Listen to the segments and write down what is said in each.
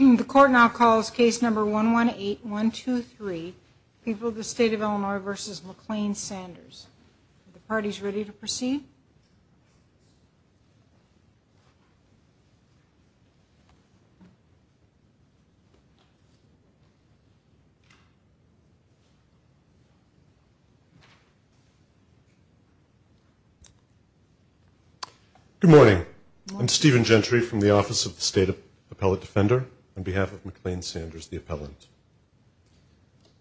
The court now calls case number 118123, People of the State of Illinois v. McLean-Sanders. Are the parties ready to proceed? Good morning. I'm Stephen Gentry from the Office of the State Appellate Defender on behalf of McLean-Sanders, the appellant.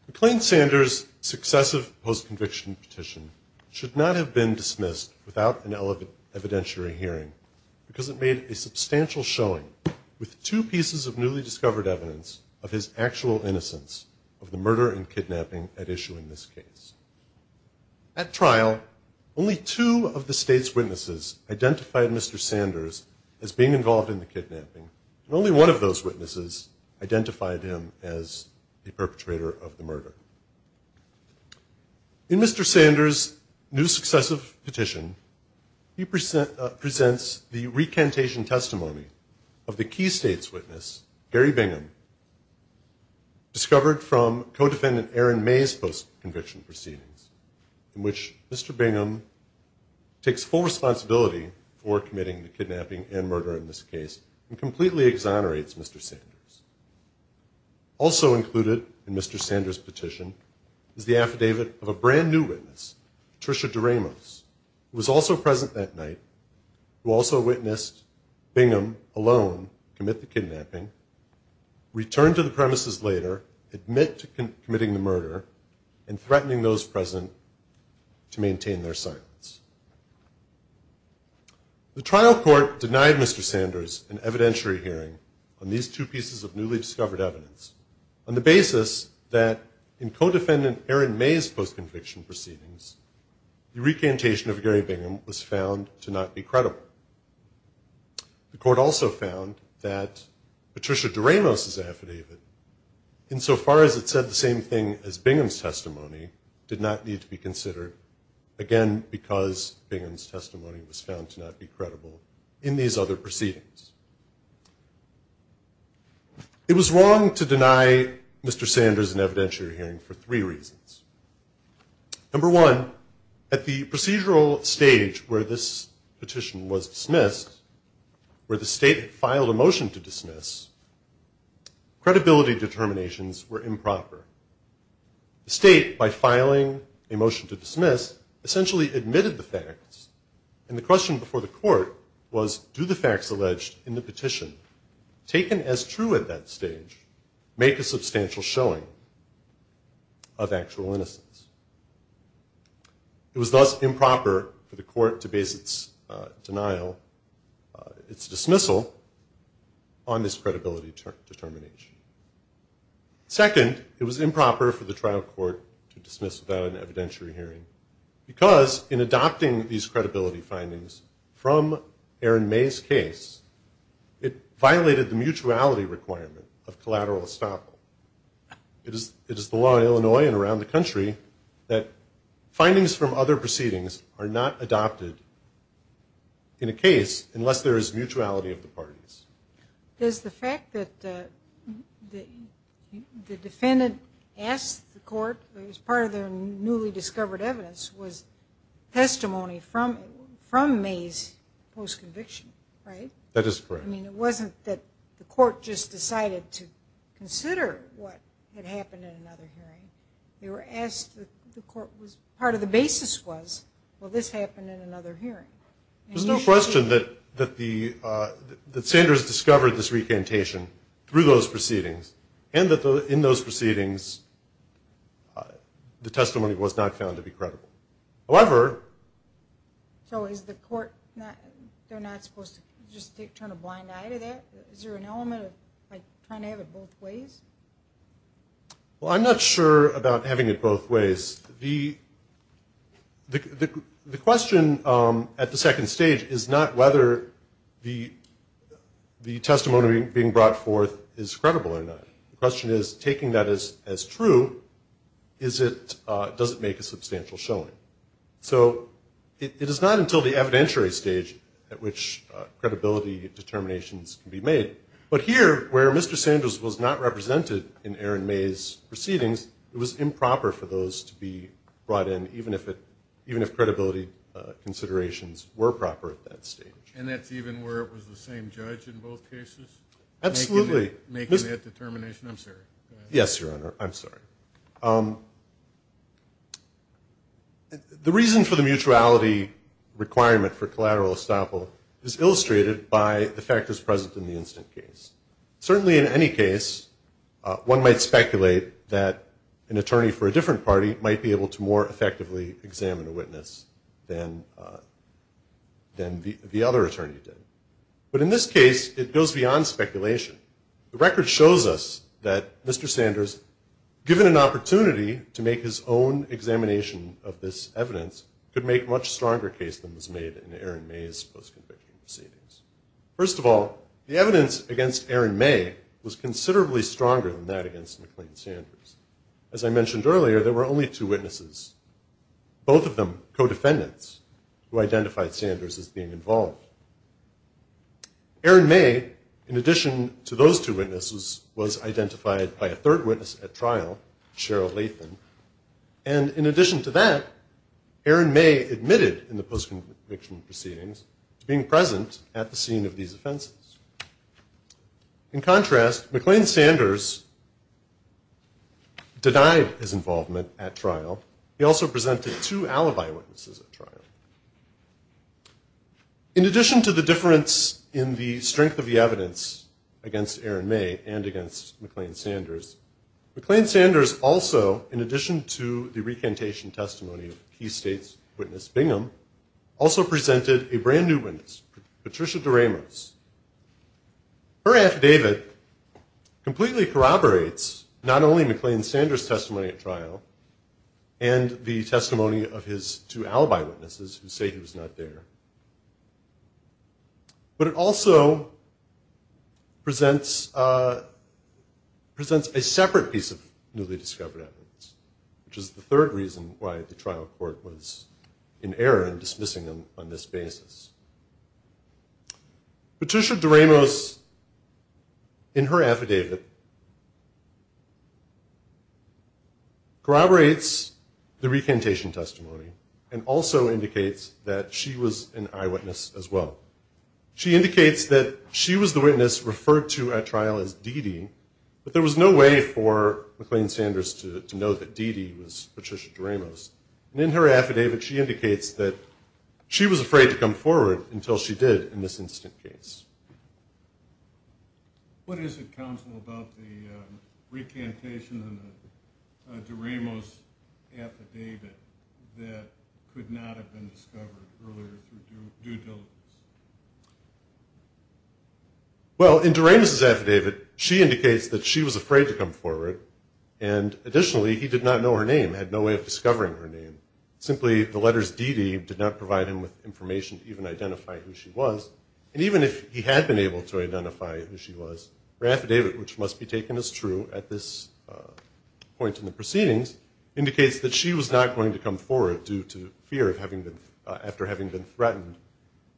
McLean-Sanders' successive post-conviction petition should not have been dismissed without an evidentiary hearing because it made a substantial showing with two pieces of newly discovered evidence of his actual innocence of the murder and kidnapping at issue in this case. At trial, only two of the state's witnesses identified Mr. Sanders as being involved in the kidnapping, and only one of those witnesses identified him as the perpetrator of the murder. In Mr. Sanders' new successive petition, he presents the recantation testimony of the key state's witness, Gary Bingham, discovered from co-defendant Aaron May's post-conviction proceedings, in which Mr. Bingham takes full responsibility for committing the kidnapping and murder in this case and completely exonerates Mr. Sanders. Also included in Mr. Sanders' petition is the affidavit of a brand-new witness, Tricia DeRamos, who was also present that night, who also witnessed Bingham alone commit the kidnapping, returned to the premises later, admit to committing the murder, and threatening those present to maintain their silence. The trial court denied Mr. Sanders an evidentiary hearing on these two pieces of newly discovered evidence on the basis that in co-defendant Aaron May's post-conviction proceedings, the recantation of Gary Bingham was found to not be credible. The court also found that Tricia DeRamos' affidavit, insofar as it said the same thing as Bingham's testimony, did not need to be considered, again, because Bingham's testimony was found to not be credible in these other proceedings. It was wrong to deny Mr. Sanders an evidentiary hearing for three reasons. Number one, at the procedural stage where this petition was dismissed, where the state had filed a motion to dismiss, credibility determinations were improper. The state, by filing a motion to dismiss, essentially admitted the facts, and the question before the court was, do the facts alleged in the petition, taken as true at that stage, make a substantial showing of actual innocence? It was thus improper for the court to base its denial, its dismissal, on this credibility determination. Second, it was improper for the trial court to dismiss without an evidentiary hearing, because in adopting these credibility findings from Aaron May's case, it violated the mutuality requirement of collateral estoppel. It is the law in Illinois and around the country that findings from other proceedings are not adopted in a case unless there is mutuality of the parties. There's the fact that the defendant asked the court, it was part of their newly discovered evidence, was testimony from May's post-conviction, right? That is correct. I mean, it wasn't that the court just decided to consider what had happened in another hearing. They were asked, part of the basis was, well, this happened in another hearing. There's no question that Sanders discovered this recantation through those proceedings and that in those proceedings the testimony was not found to be credible. However, So is the court not supposed to just turn a blind eye to that? Is there an element of trying to have it both ways? Well, I'm not sure about having it both ways. The question at the second stage is not whether the testimony being brought forth is credible or not. The question is, taking that as true, does it make a substantial showing? So it is not until the evidentiary stage at which credibility determinations can be made. But here, where Mr. Sanders was not represented in Aaron May's proceedings, it was improper for those to be brought in, even if credibility considerations were proper at that stage. And that's even where it was the same judge in both cases? Absolutely. Making that determination? I'm sorry. Yes, Your Honor. I'm sorry. The reason for the mutuality requirement for collateral estoppel is illustrated by the factors present in the instant case. Certainly in any case, one might speculate that an attorney for a different party might be able to more effectively examine a witness than the other attorney did. But in this case, it goes beyond speculation. The record shows us that Mr. Sanders, given an opportunity to make his own examination of this evidence, could make a much stronger case than was made in Aaron May's post-conviction proceedings. First of all, the evidence against Aaron May was considerably stronger than that against McLean Sanders. As I mentioned earlier, there were only two witnesses, both of them co-defendants, who identified Sanders as being involved. Aaron May, in addition to those two witnesses, was identified by a third witness at trial, Cheryl Lathan. And in addition to that, Aaron May admitted in the post-conviction proceedings to being present at the scene of these offenses. In contrast, McLean Sanders denied his involvement at trial. He also presented two alibi witnesses at trial. In addition to the difference in the strength of the evidence against Aaron May and against McLean Sanders, McLean Sanders also, in addition to the recantation testimony of Key States witness Bingham, also presented a brand-new witness, Patricia DeRamos. Her affidavit completely corroborates not only McLean Sanders' testimony at trial and the testimony of his two alibi witnesses who say he was not there, but it also presents a separate piece of newly discovered evidence, which is the third reason why the trial court was in error in dismissing him on this basis. Patricia DeRamos, in her affidavit, corroborates the recantation testimony and also indicates that she was an eyewitness as well. She indicates that she was the witness referred to at trial as Dee Dee, but there was no way for McLean Sanders to know that Dee Dee was Patricia DeRamos. And in her affidavit, she indicates that she was afraid to come forward until she did in this incident case. What is it, counsel, about the recantation in DeRamos' affidavit that could not have been discovered earlier through due diligence? Well, in DeRamos' affidavit, she indicates that she was afraid to come forward, and additionally, he did not know her name, had no way of discovering her name. Simply, the letters Dee Dee did not provide him with information to even identify who she was. And even if he had been able to identify who she was, her affidavit, which must be taken as true at this point in the proceedings, indicates that she was not going to come forward due to fear after having been threatened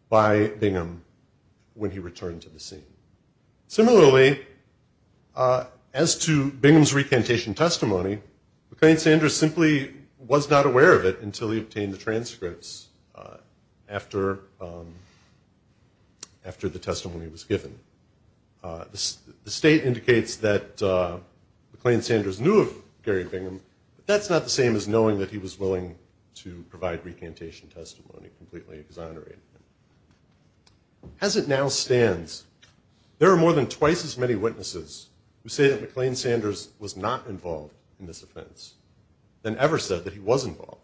by Bingham when he returned to the scene. Similarly, as to Bingham's recantation testimony, McLean Sanders simply was not aware of it until he obtained the transcripts after the testimony was given. The state indicates that McLean Sanders knew of Gary Bingham, but that's not the same as knowing that he was willing to provide recantation testimony, completely exonerating him. As it now stands, there are more than twice as many witnesses who say that McLean Sanders was not involved in this offense than ever said that he was involved.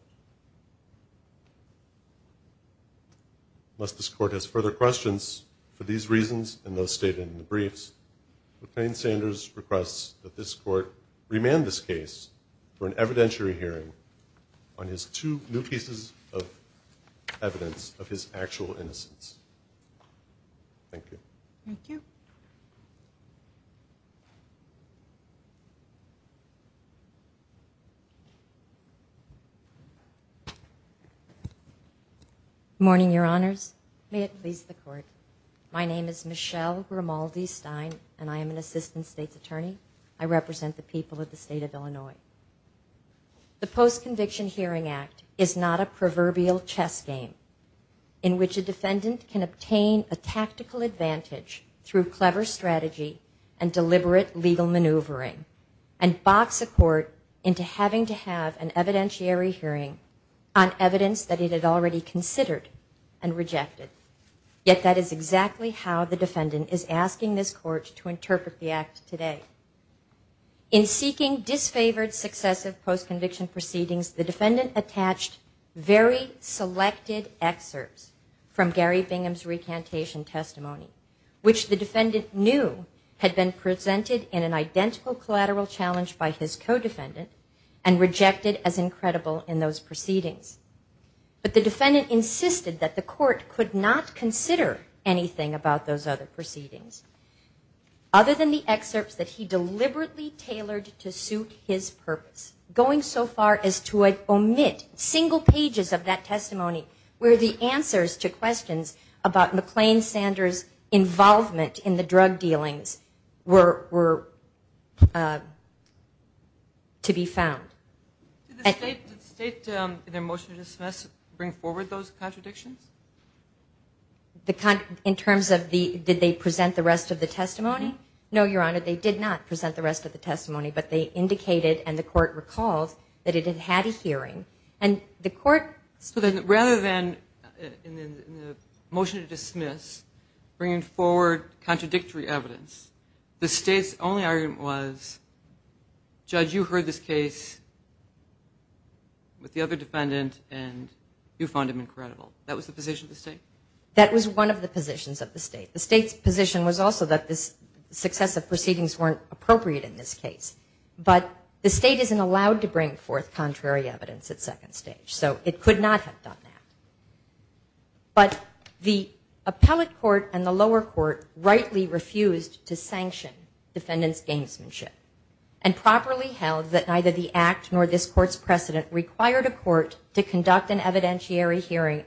Unless this court has further questions for these reasons and those stated in the briefs, McLean Sanders requests that this court remand this case for an evidentiary hearing on his two new pieces of evidence of his actual innocence. Thank you. Good morning, Your Honors. May it please the Court. My name is Michelle Grimaldi Stein, and I am an Assistant State's Attorney. I represent the people of the state of Illinois. The Post-Conviction Hearing Act is not a proverbial chess game in which a defendant can obtain a tactical advantage through clever strategy and deliberate legal maneuvering and box a court into having to have an evidentiary hearing on evidence that it had already considered and rejected. Yet that is exactly how the defendant is asking this court to interpret the act today. In seeking disfavored successive post-conviction proceedings, the defendant attached very selected excerpts from Gary Bingham's recantation testimony, which the defendant knew had been presented in an identical collateral challenge by his co-defendant and rejected as incredible in those proceedings. But the defendant insisted that the court could not consider anything about those other proceedings other than the excerpts that he deliberately tailored to suit his purpose, going so far as to omit single pages of that testimony where the answers to questions about McClain-Sanders' involvement in the drug dealings were to be found. Did the state, in their motion to dismiss, bring forward those contradictions? In terms of the, did they present the rest of the testimony? No, Your Honor, they did not present the rest of the testimony, but they indicated and the court recalled that it had had a hearing. So then rather than, in the motion to dismiss, bringing forward contradictory evidence, the state's only argument was, Judge, you heard this case with the other defendant and you found him incredible. That was the position of the state? That was one of the positions of the state. The state's position was also that this success of proceedings weren't appropriate in this case. But the state isn't allowed to bring forth contrary evidence at second stage, so it could not have done that. But the appellate court and the lower court rightly refused to sanction defendant's gamesmanship and properly held that neither the act nor this court's precedent required a court to conduct an evidentiary hearing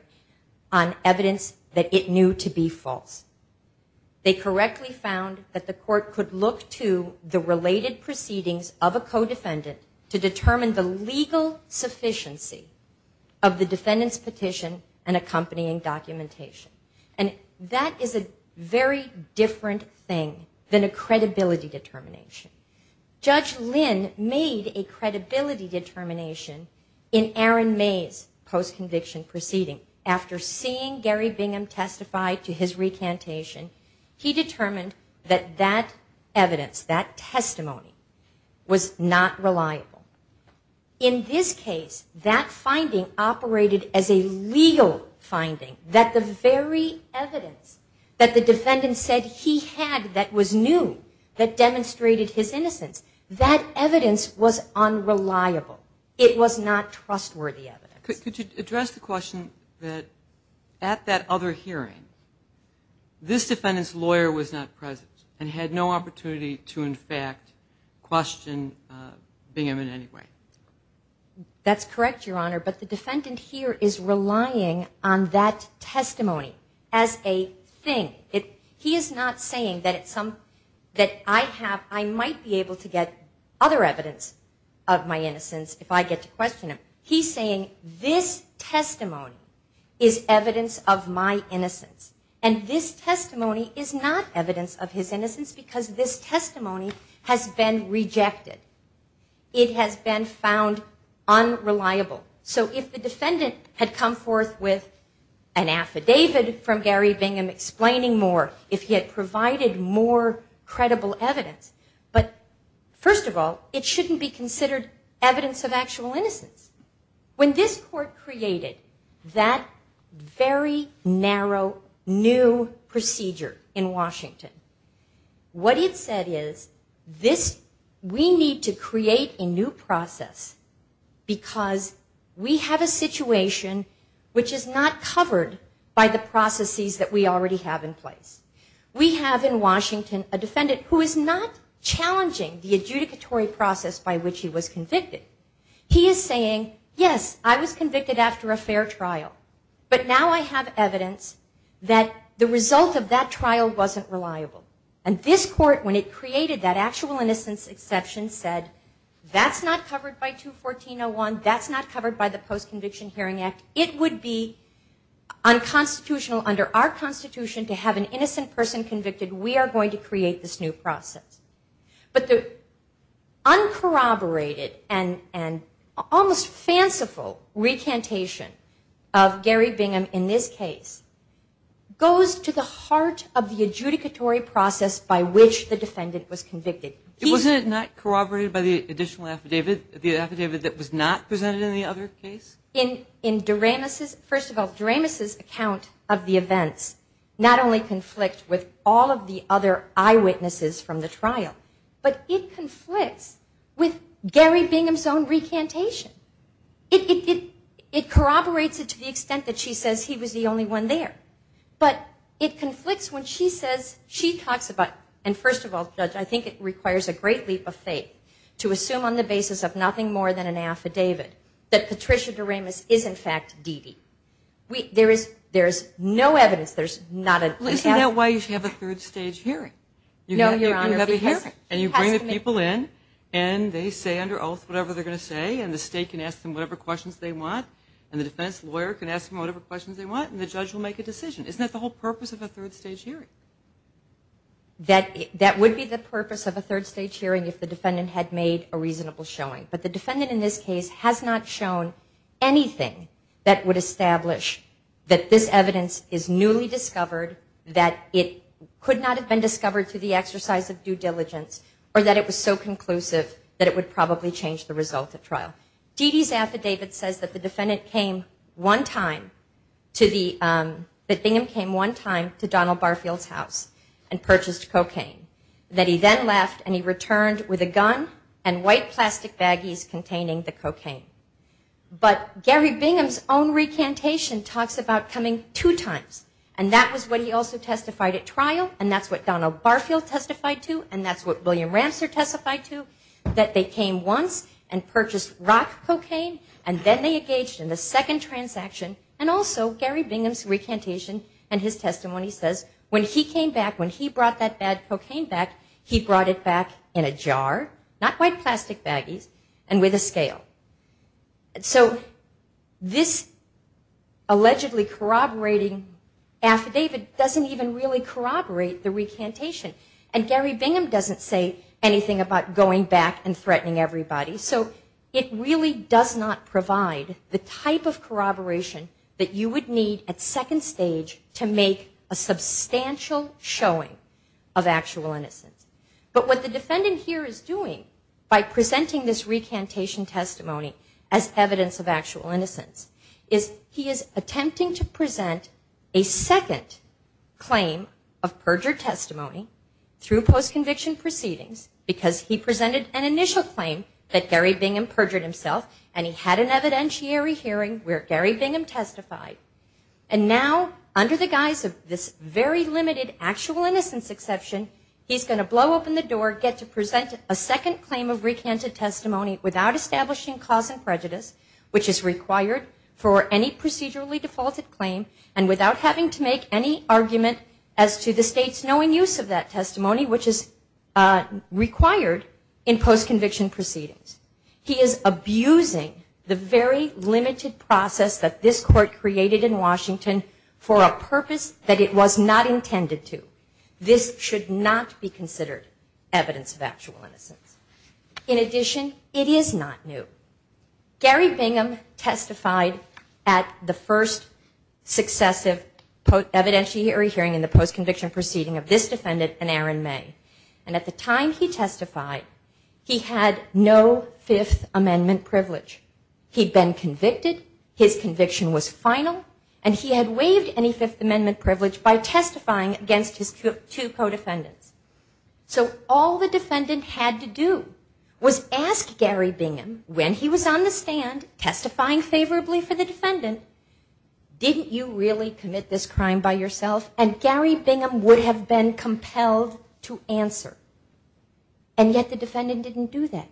on evidence that it knew to be false. They correctly found that the court could look to the related proceedings of a co-defendant to determine the legal sufficiency of the defendant's petition and accompanying documentation. And that is a very different thing than a credibility determination. Judge Lynn made a credibility determination in Aaron May's post-conviction proceeding. After seeing Gary Bingham testify to his recantation, he determined that that evidence, that testimony, was not reliable. In this case, that finding operated as a legal finding, that the very evidence that the defendant said he had that was new, that demonstrated his innocence, that evidence was unreliable. It was not trustworthy evidence. Could you address the question that at that other hearing, this defendant's lawyer was not present and had no opportunity to, in fact, question Bingham in any way? That's correct, Your Honor, but the defendant here is relying on that testimony as a thing. He is not saying that I might be able to get other evidence of my innocence if I get to question him. He's saying this testimony is evidence of my innocence, and this testimony is not evidence of his innocence because this testimony has been rejected. It has been found unreliable. So if the defendant had come forth with an affidavit from Gary Bingham explaining more, if he had provided more credible evidence, but first of all, it shouldn't be considered evidence of actual innocence. When this court created that very narrow new procedure in Washington, what it said is we need to create a new process because we have a situation which is not covered by the processes that we already have in place. We have in Washington a defendant who is not challenging the adjudicatory process by which he was convicted. He is saying, yes, I was convicted after a fair trial, but now I have evidence that the result of that trial wasn't reliable. And this court, when it created that actual innocence exception, said, that's not covered by 214.01. That's not covered by the Post-Conviction Hearing Act. It would be unconstitutional under our Constitution to have an innocent person convicted. We are going to create this new process. But the uncorroborated and almost fanciful recantation of Gary Bingham in this case goes to the heart of the adjudicatory process by which the defendant was convicted. Wasn't it not corroborated by the additional affidavit, the affidavit that was not presented in the other case? In DeRamis's, first of all, DeRamis's account of the events not only conflict with all of the other eyewitnesses from the trial, but it conflicts with Gary Bingham's own recantation. It corroborates it to the extent that she says he was the only one there. But it conflicts when she says, she talks about, and first of all, Judge, I think it requires a great leap of faith to assume on the basis of nothing more than an affidavit that Patricia DeRamis is, in fact, Deedee. There is no evidence. Isn't that why you should have a third stage hearing? And you bring the people in, and they say under oath whatever they're going to say, and the state can ask them whatever questions they want, and the defense lawyer can ask them whatever questions they want, and the judge will make a decision. Isn't that the whole purpose of a third stage hearing? That would be the purpose of a third stage hearing if the defendant had made a reasonable showing. But the defendant in this case has not shown anything that would establish that this evidence is newly discovered, that it could not have been discovered through the exercise of due diligence, or that it was so conclusive that it would probably change the result of trial. Deedee's affidavit says that the defendant came one time to the, that Bingham came one time to Donald Barfield's house and purchased cocaine, that he then left and he returned with a gun and white plastic baggies containing the cocaine. But Gary Bingham's own recantation talks about coming two times, and that was what he also testified at trial, and that's what Donald Barfield testified to, and that's what William Ramster testified to, that they came once and purchased rock cocaine, and then they engaged in the second transaction, and also Gary Bingham's recantation and his testimony says when he came back, not white plastic baggies and with a scale. So this allegedly corroborating affidavit doesn't even really corroborate the recantation, and Gary Bingham doesn't say anything about going back and threatening everybody. So it really does not provide the type of corroboration that you would need at second stage to make a substantial showing of actual innocence. But what the defendant here is doing by presenting this recantation testimony as evidence of actual innocence is he is attempting to present a second claim of perjured testimony through post-conviction proceedings because he presented an initial claim that Gary Bingham perjured himself and he had an evidentiary hearing where Gary Bingham testified, and now under the guise of this very limited actual innocence exception, he's going to blow open the door, get to present a second claim of recanted testimony without establishing cause and prejudice, which is required for any procedurally defaulted claim, and without having to make any argument as to the state's knowing use of that testimony, which is required in post-conviction proceedings. He is abusing the very limited process that this court created in Washington for a purpose that it was not intended to. This should not be considered evidence of actual innocence. In addition, it is not new. Gary Bingham testified at the first successive evidentiary hearing in the post-conviction proceeding of this defendant and Aaron May. And at the time he testified, he had no Fifth Amendment privilege. He'd been convicted, his conviction was final, and he had waived any Fifth Amendment privilege by testifying against his two co-defendants. So all the defendant had to do was ask Gary Bingham, when he was on the stand testifying favorably for the defendant, didn't you really commit this crime by yourself? And Gary Bingham would have been compelled to answer. And yet the defendant didn't do that.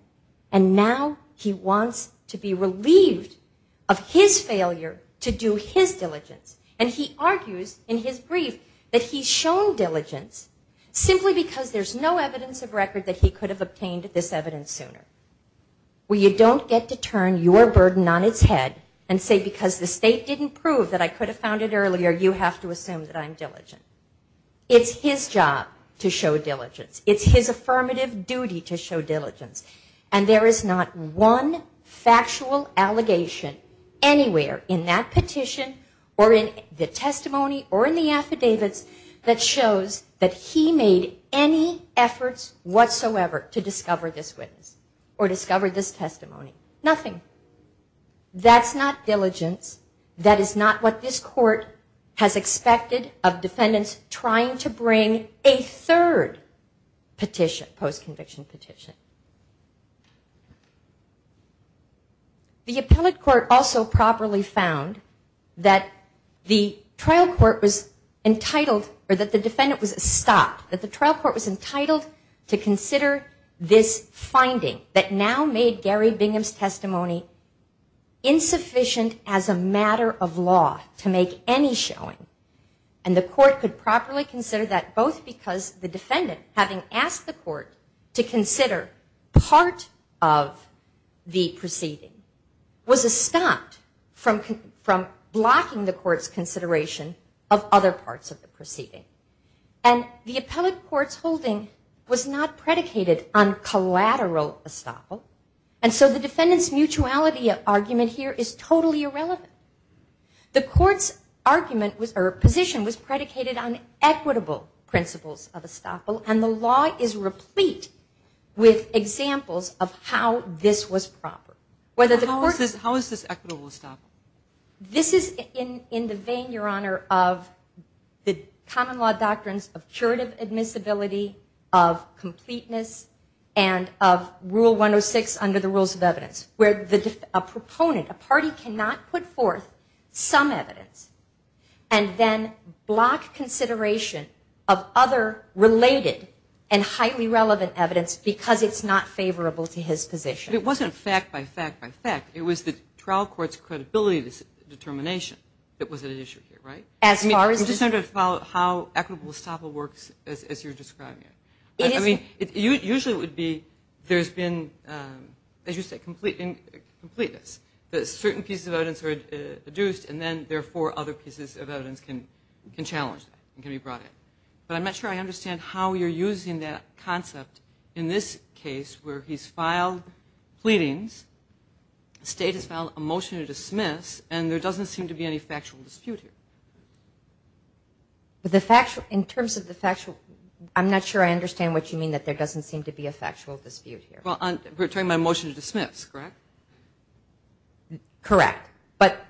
And now he wants to be relieved of his failure to do his diligence. And he argues in his brief that he's shown diligence simply because there's no evidence of record that he could have obtained this evidence sooner, where you don't get to turn your burden on its head and say because the state didn't prove that I could have found it earlier, you have to assume that I'm diligent. It's his job to show diligence. It's his affirmative duty to show diligence. And there is not one factual allegation anywhere in that petition or in the testimony or in the affidavits that shows that he made any efforts whatsoever to discover this witness or discover this testimony. Nothing. That's not diligence. That is not what this court has expected of defendants trying to bring a third petition, post-conviction petition. The appellate court also properly found that the trial court was entitled or that the defendant was stopped, that the trial court was entitled to consider this finding that now made Gary Bingham's testimony insufficient as a matter of law to make any showing. And the court could properly consider that both because the defendant having asked the court to consider part of the proceeding was stopped from blocking the court's consideration of other parts of the proceeding. And the appellate court's holding was not predicated on collateral estoppel, and so the defendant's mutuality argument here is totally irrelevant. The court's position was predicated on equitable principles of estoppel, and the law is replete with examples of how this was proper. How is this equitable estoppel? This is in the vein, Your Honor, of the common law doctrines of curative admissibility, of completeness, and of Rule 106 under the Fourth, some evidence, and then block consideration of other related and highly relevant evidence because it's not favorable to his position. But it wasn't fact by fact by fact. It was the trial court's credibility determination that was at issue here, right? As far as the... I'm just trying to follow how equitable estoppel works as you're describing it. I mean, it usually would be there's been, as you say, completeness. Certain pieces of evidence are adduced, and then, therefore, other pieces of evidence can challenge that and can be brought in. But I'm not sure I understand how you're using that concept in this case where he's filed pleadings, the state has filed a motion to dismiss, and there doesn't seem to be any factual dispute here. In terms of the factual, I'm not sure I understand what you mean that there doesn't seem to be a factual dispute here. Well, we're talking about a motion to dismiss, correct? Correct. But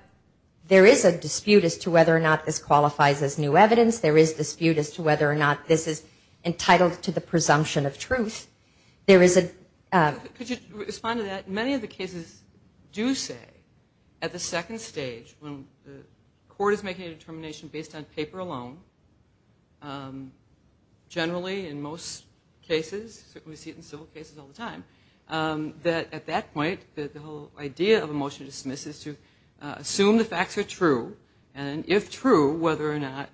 there is a dispute as to whether or not this qualifies as new evidence. There is dispute as to whether or not this is entitled to the presumption of truth. There is a... Could you respond to that? Many of the cases do say at the second stage when the court is making a determination based on paper alone, generally in most cases, certainly we see it in civil cases all the time, that at that point the whole idea of a motion to dismiss is to assume the facts are true, and if true, whether or not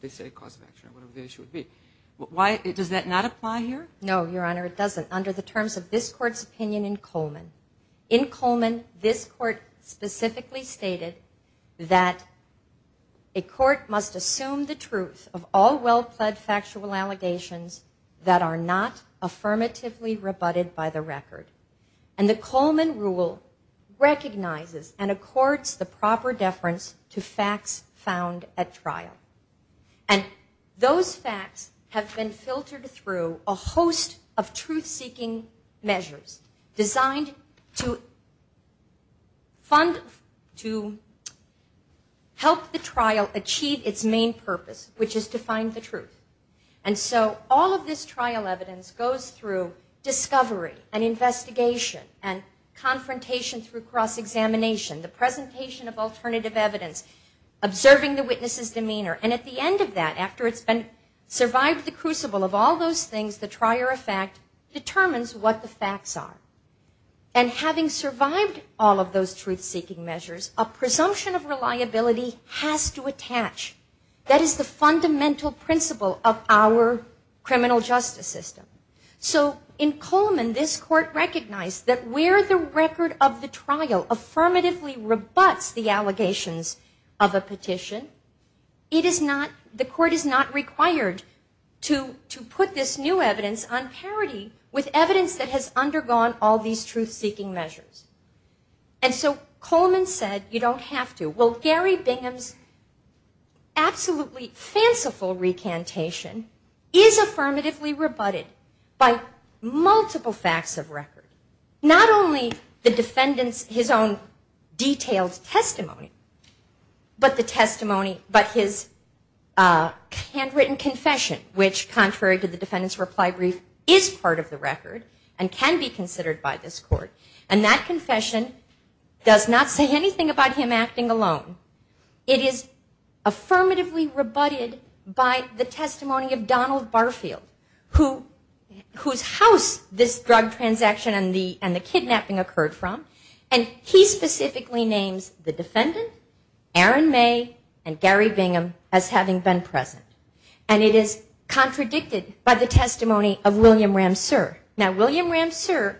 they say cause of action or whatever the issue would be. Does that not apply here? No, Your Honor, it doesn't under the terms of this court's opinion in Coleman. In Coleman, this court specifically stated that a court must assume the truth of all well-pled factual allegations that are not affirmatively rebutted by the record. And the Coleman rule recognizes and accords the proper deference to facts found at trial. And those facts have been filtered through a host of truth-seeking measures designed to fund, to help the trial achieve its main purpose, which is to find the truth. And so all of this trial evidence goes through discovery and investigation and confrontation through cross-examination, the presentation of alternative evidence, observing the witness's demeanor. And at the end of that, after it's been survived the crucible of all those things, the trier of fact determines what the facts are. And having survived all of those truth-seeking measures, a presumption of reliability has to attach. That is the fundamental principle of our criminal justice system. So in Coleman, this court recognized that where the record of the trial affirmatively rebuts the allegations of a petition, it is not, the defendants have this new evidence on parity with evidence that has undergone all these truth-seeking measures. And so Coleman said, you don't have to. Well, Gary Bingham's absolutely fanciful recantation is affirmatively rebutted by multiple facts of record. Not only the defendant's, his own detailed testimony, but the testimony, but his handwritten confession, which contrary to the defendant's reply brief, is part of the record and can be considered by this court. And that confession does not say anything about him acting alone. It is affirmatively rebutted by the testimony of Donald Barfield, whose house this drug transaction and the kidnapping occurred from. And he specifically names the defendant, Aaron May, and Gary Bingham, as having been present. And it is contradicted by the testimony of William Ramser. Now, William Ramser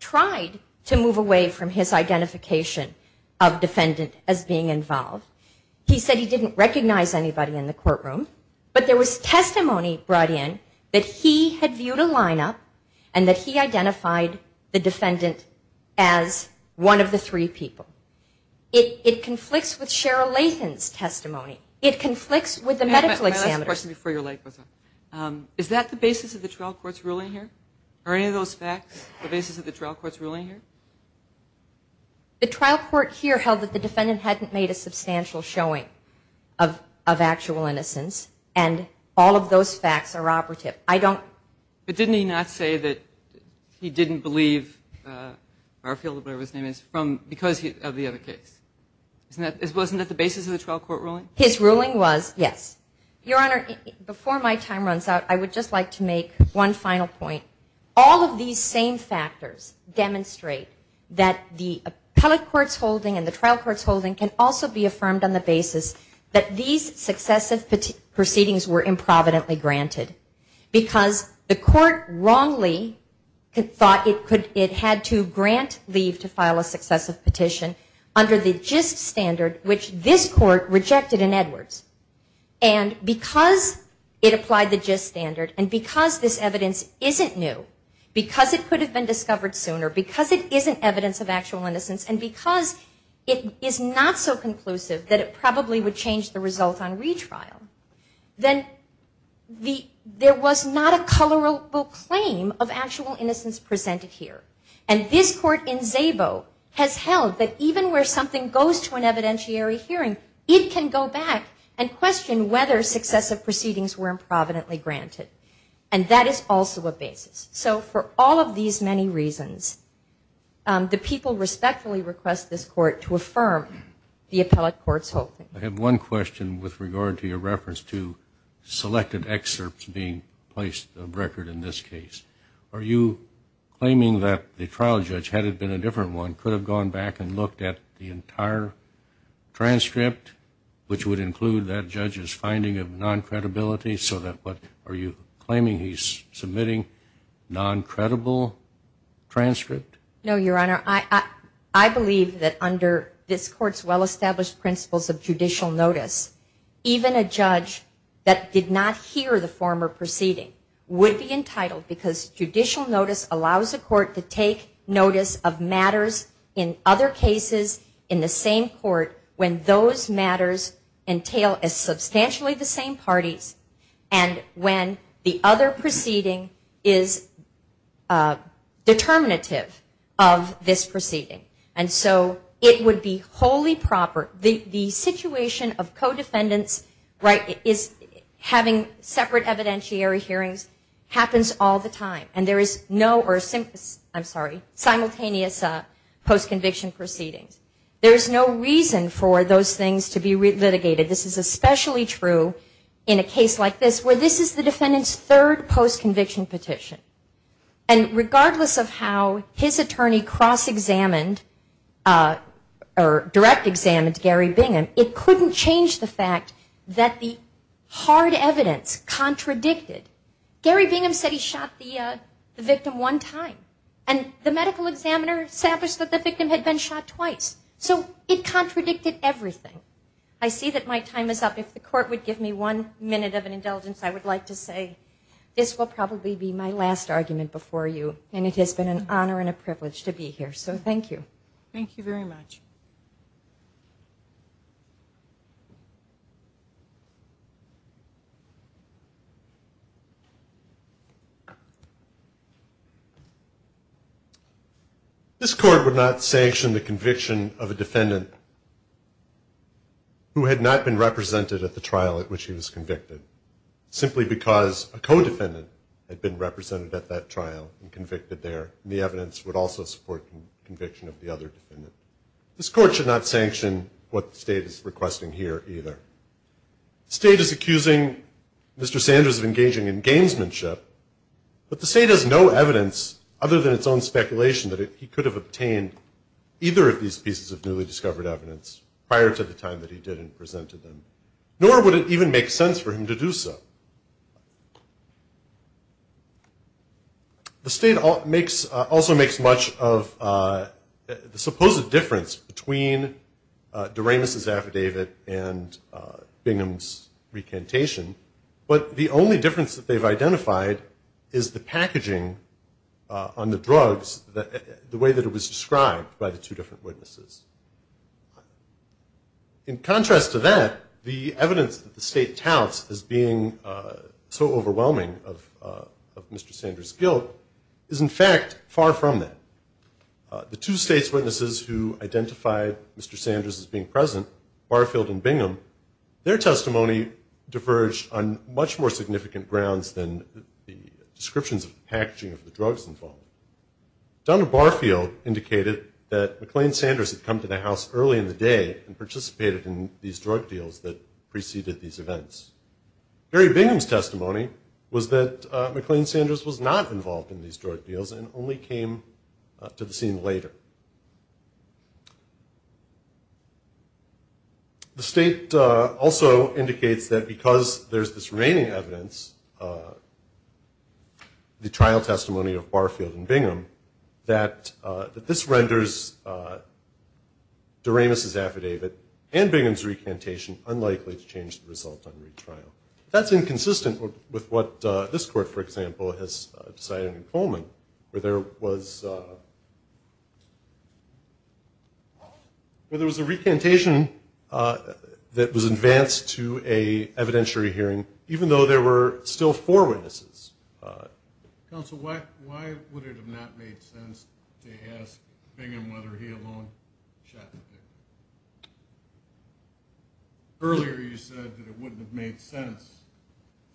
tried to move away from his identification of defendant as being involved. He said he didn't recognize anybody in the courtroom, but there was testimony brought in that he had viewed a lineup and that he identified the defendant as one of the three people. It conflicts with Cheryl Lathan's testimony. It conflicts with the medical examiner's. Is that the basis of the trial court's ruling here? Are any of those facts the basis of the trial court's ruling here? The trial court here held that the defendant hadn't made a substantial showing of actual innocence. And all of those facts are operative. But didn't he not say that he didn't believe Barfield, whatever his name is, because of the other case? Wasn't that the basis of the trial court ruling? His ruling was, yes. Your Honor, before my time runs out, I would just like to make one final point. All of these same factors demonstrate that the appellate court's holding and the trial court's holding can also be affirmed on the basis that these successive proceedings were improvidently granted. Because the court wrongly thought it had to grant leave to file a successive petition under the gist standard, which this court rejected in Edwards. And because it applied the gist standard and because this evidence isn't new, because it could have been discovered sooner, because it isn't evidence of actual innocence, and because it is not so conclusive that it was a retrial, then there was not a colorable claim of actual innocence presented here. And this court in Szabo has held that even where something goes to an evidentiary hearing, it can go back and question whether successive proceedings were improvidently granted. And that is also a basis. So for all of these many reasons, the people respectfully request this court to affirm the appellate court's holding. I have one question with regard to your reference to selected excerpts being placed on record in this case. Are you claiming that the trial judge, had it been a different one, could have gone back and looked at the entire transcript, which would include that judge's finding of non-credibility? So are you claiming he's submitting non-credible transcript? No, Your Honor. I believe that under this court's well-established principles of judicial notice, even a judge that did not hear the former proceeding would be entitled, because judicial notice allows a court to take notice of matters in other cases in the same court when those matters entail as substantially the same parties, and when the other proceeding is determinative of this proceeding, and so it would be wholly proper. The situation of co-defendants having separate evidentiary hearings happens all the time, and there is no simultaneous post-conviction proceedings. There is no reason for those things to be litigated. This is especially true in a case like this, where this is the defendant's third post-conviction petition. And regardless of how his attorney cross-examined or direct-examined Gary Bingham, it couldn't change the fact that the hard evidence contradicted. Gary Bingham said he shot the victim one time, and the medical examiner established that the victim had been shot twice. So it contradicted everything. I see that my time is up. If the court would give me one minute of an indulgence, I would like to say this will probably be my last argument before you, and it has been an honor and a privilege to be here, so thank you. Thank you very much. This court would not sanction the conviction of a defendant who had not been represented at the trial at which he was convicted, simply because of the fact that a co-defendant had been represented at that trial and convicted there, and the evidence would also support the conviction of the other defendant. This court should not sanction what the state is requesting here, either. The state is accusing Mr. Sanders of engaging in gamesmanship, but the state has no evidence, other than its own speculation, that he could have obtained either of these pieces of newly discovered evidence prior to the time that he did and presented them, nor would it even make sense for him to do so. The state also makes much of the supposed difference between Doremus' affidavit and Bingham's recantation, but the only difference that they've identified is the packaging on the drugs, the way that it was described by the two different witnesses. In contrast to that, the evidence that the state touts as being so overwhelming of Mr. Sanders' guilt is, in fact, far from that. The two state's witnesses who identified Mr. Sanders as being present, Barfield and Bingham, their testimony diverged on much more significant grounds than the descriptions of the packaging of the drugs involved. Donald Barfield indicated that McLean Sanders had come to the House early in the day and participated in these drug deals that preceded these events. Gary Bingham's testimony was that McLean Sanders was not involved in these drug deals and only came to the scene later. The state also indicates that because there's this remaining evidence, the trial testimony of Barfield and Bingham, that this renders Doremus' affidavit and Bingham's recantation unlikely to change the result on retrial. That's inconsistent with what this court, for example, has decided in Coleman, where there was a recantation that was advanced to an So, in fact, there's still four witnesses. Counsel, why would it have not made sense to ask Bingham whether he alone shot the victim? Earlier you said that it wouldn't have made sense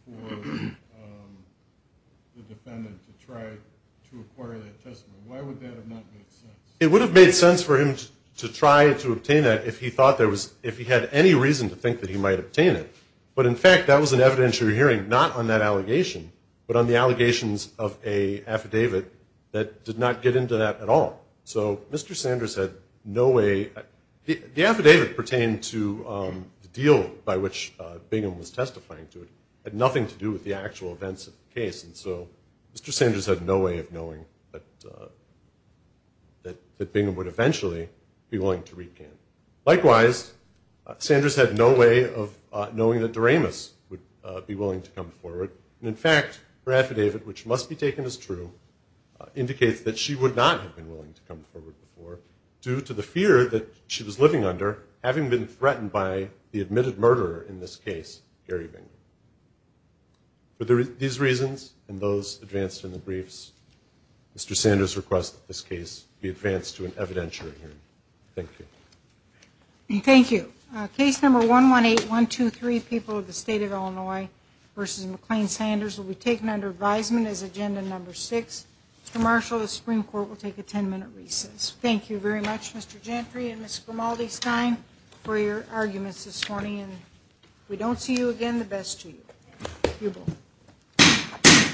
for the defendant to try to acquire that testimony. Why would that have not made sense? It would have made sense for him to try to obtain that if he had any reason to think that he might obtain it. But, in fact, that was an evidentiary hearing not on that allegation, but on the allegations of an affidavit that did not get into that at all. So Mr. Sanders had no way. The affidavit pertained to the deal by which Bingham was testifying to it had nothing to do with the actual events of the case. And so Mr. Sanders had no way of knowing that Bingham would eventually be willing to recant. Likewise, Sanders had no way of knowing that Doremus would be willing to come forward. And, in fact, her affidavit, which must be taken as true, indicates that she would not have been willing to come forward before due to the fear that she was living under having been threatened by the admitted murderer in this case, Gary Bingham. For these reasons and those advanced in the briefs, Mr. Sanders requests that this case be advanced to an evidentiary hearing. Thank you. Thank you. Case number 118123, People of the State of Illinois v. McLean-Sanders, will be taken under advisement as agenda number six. Mr. Marshall, the Supreme Court will take a ten-minute recess. Thank you very much, Mr. Gentry and Ms. Grimaldi-Stein, for your arguments this morning. And if we don't see you again, the best to you. You're both.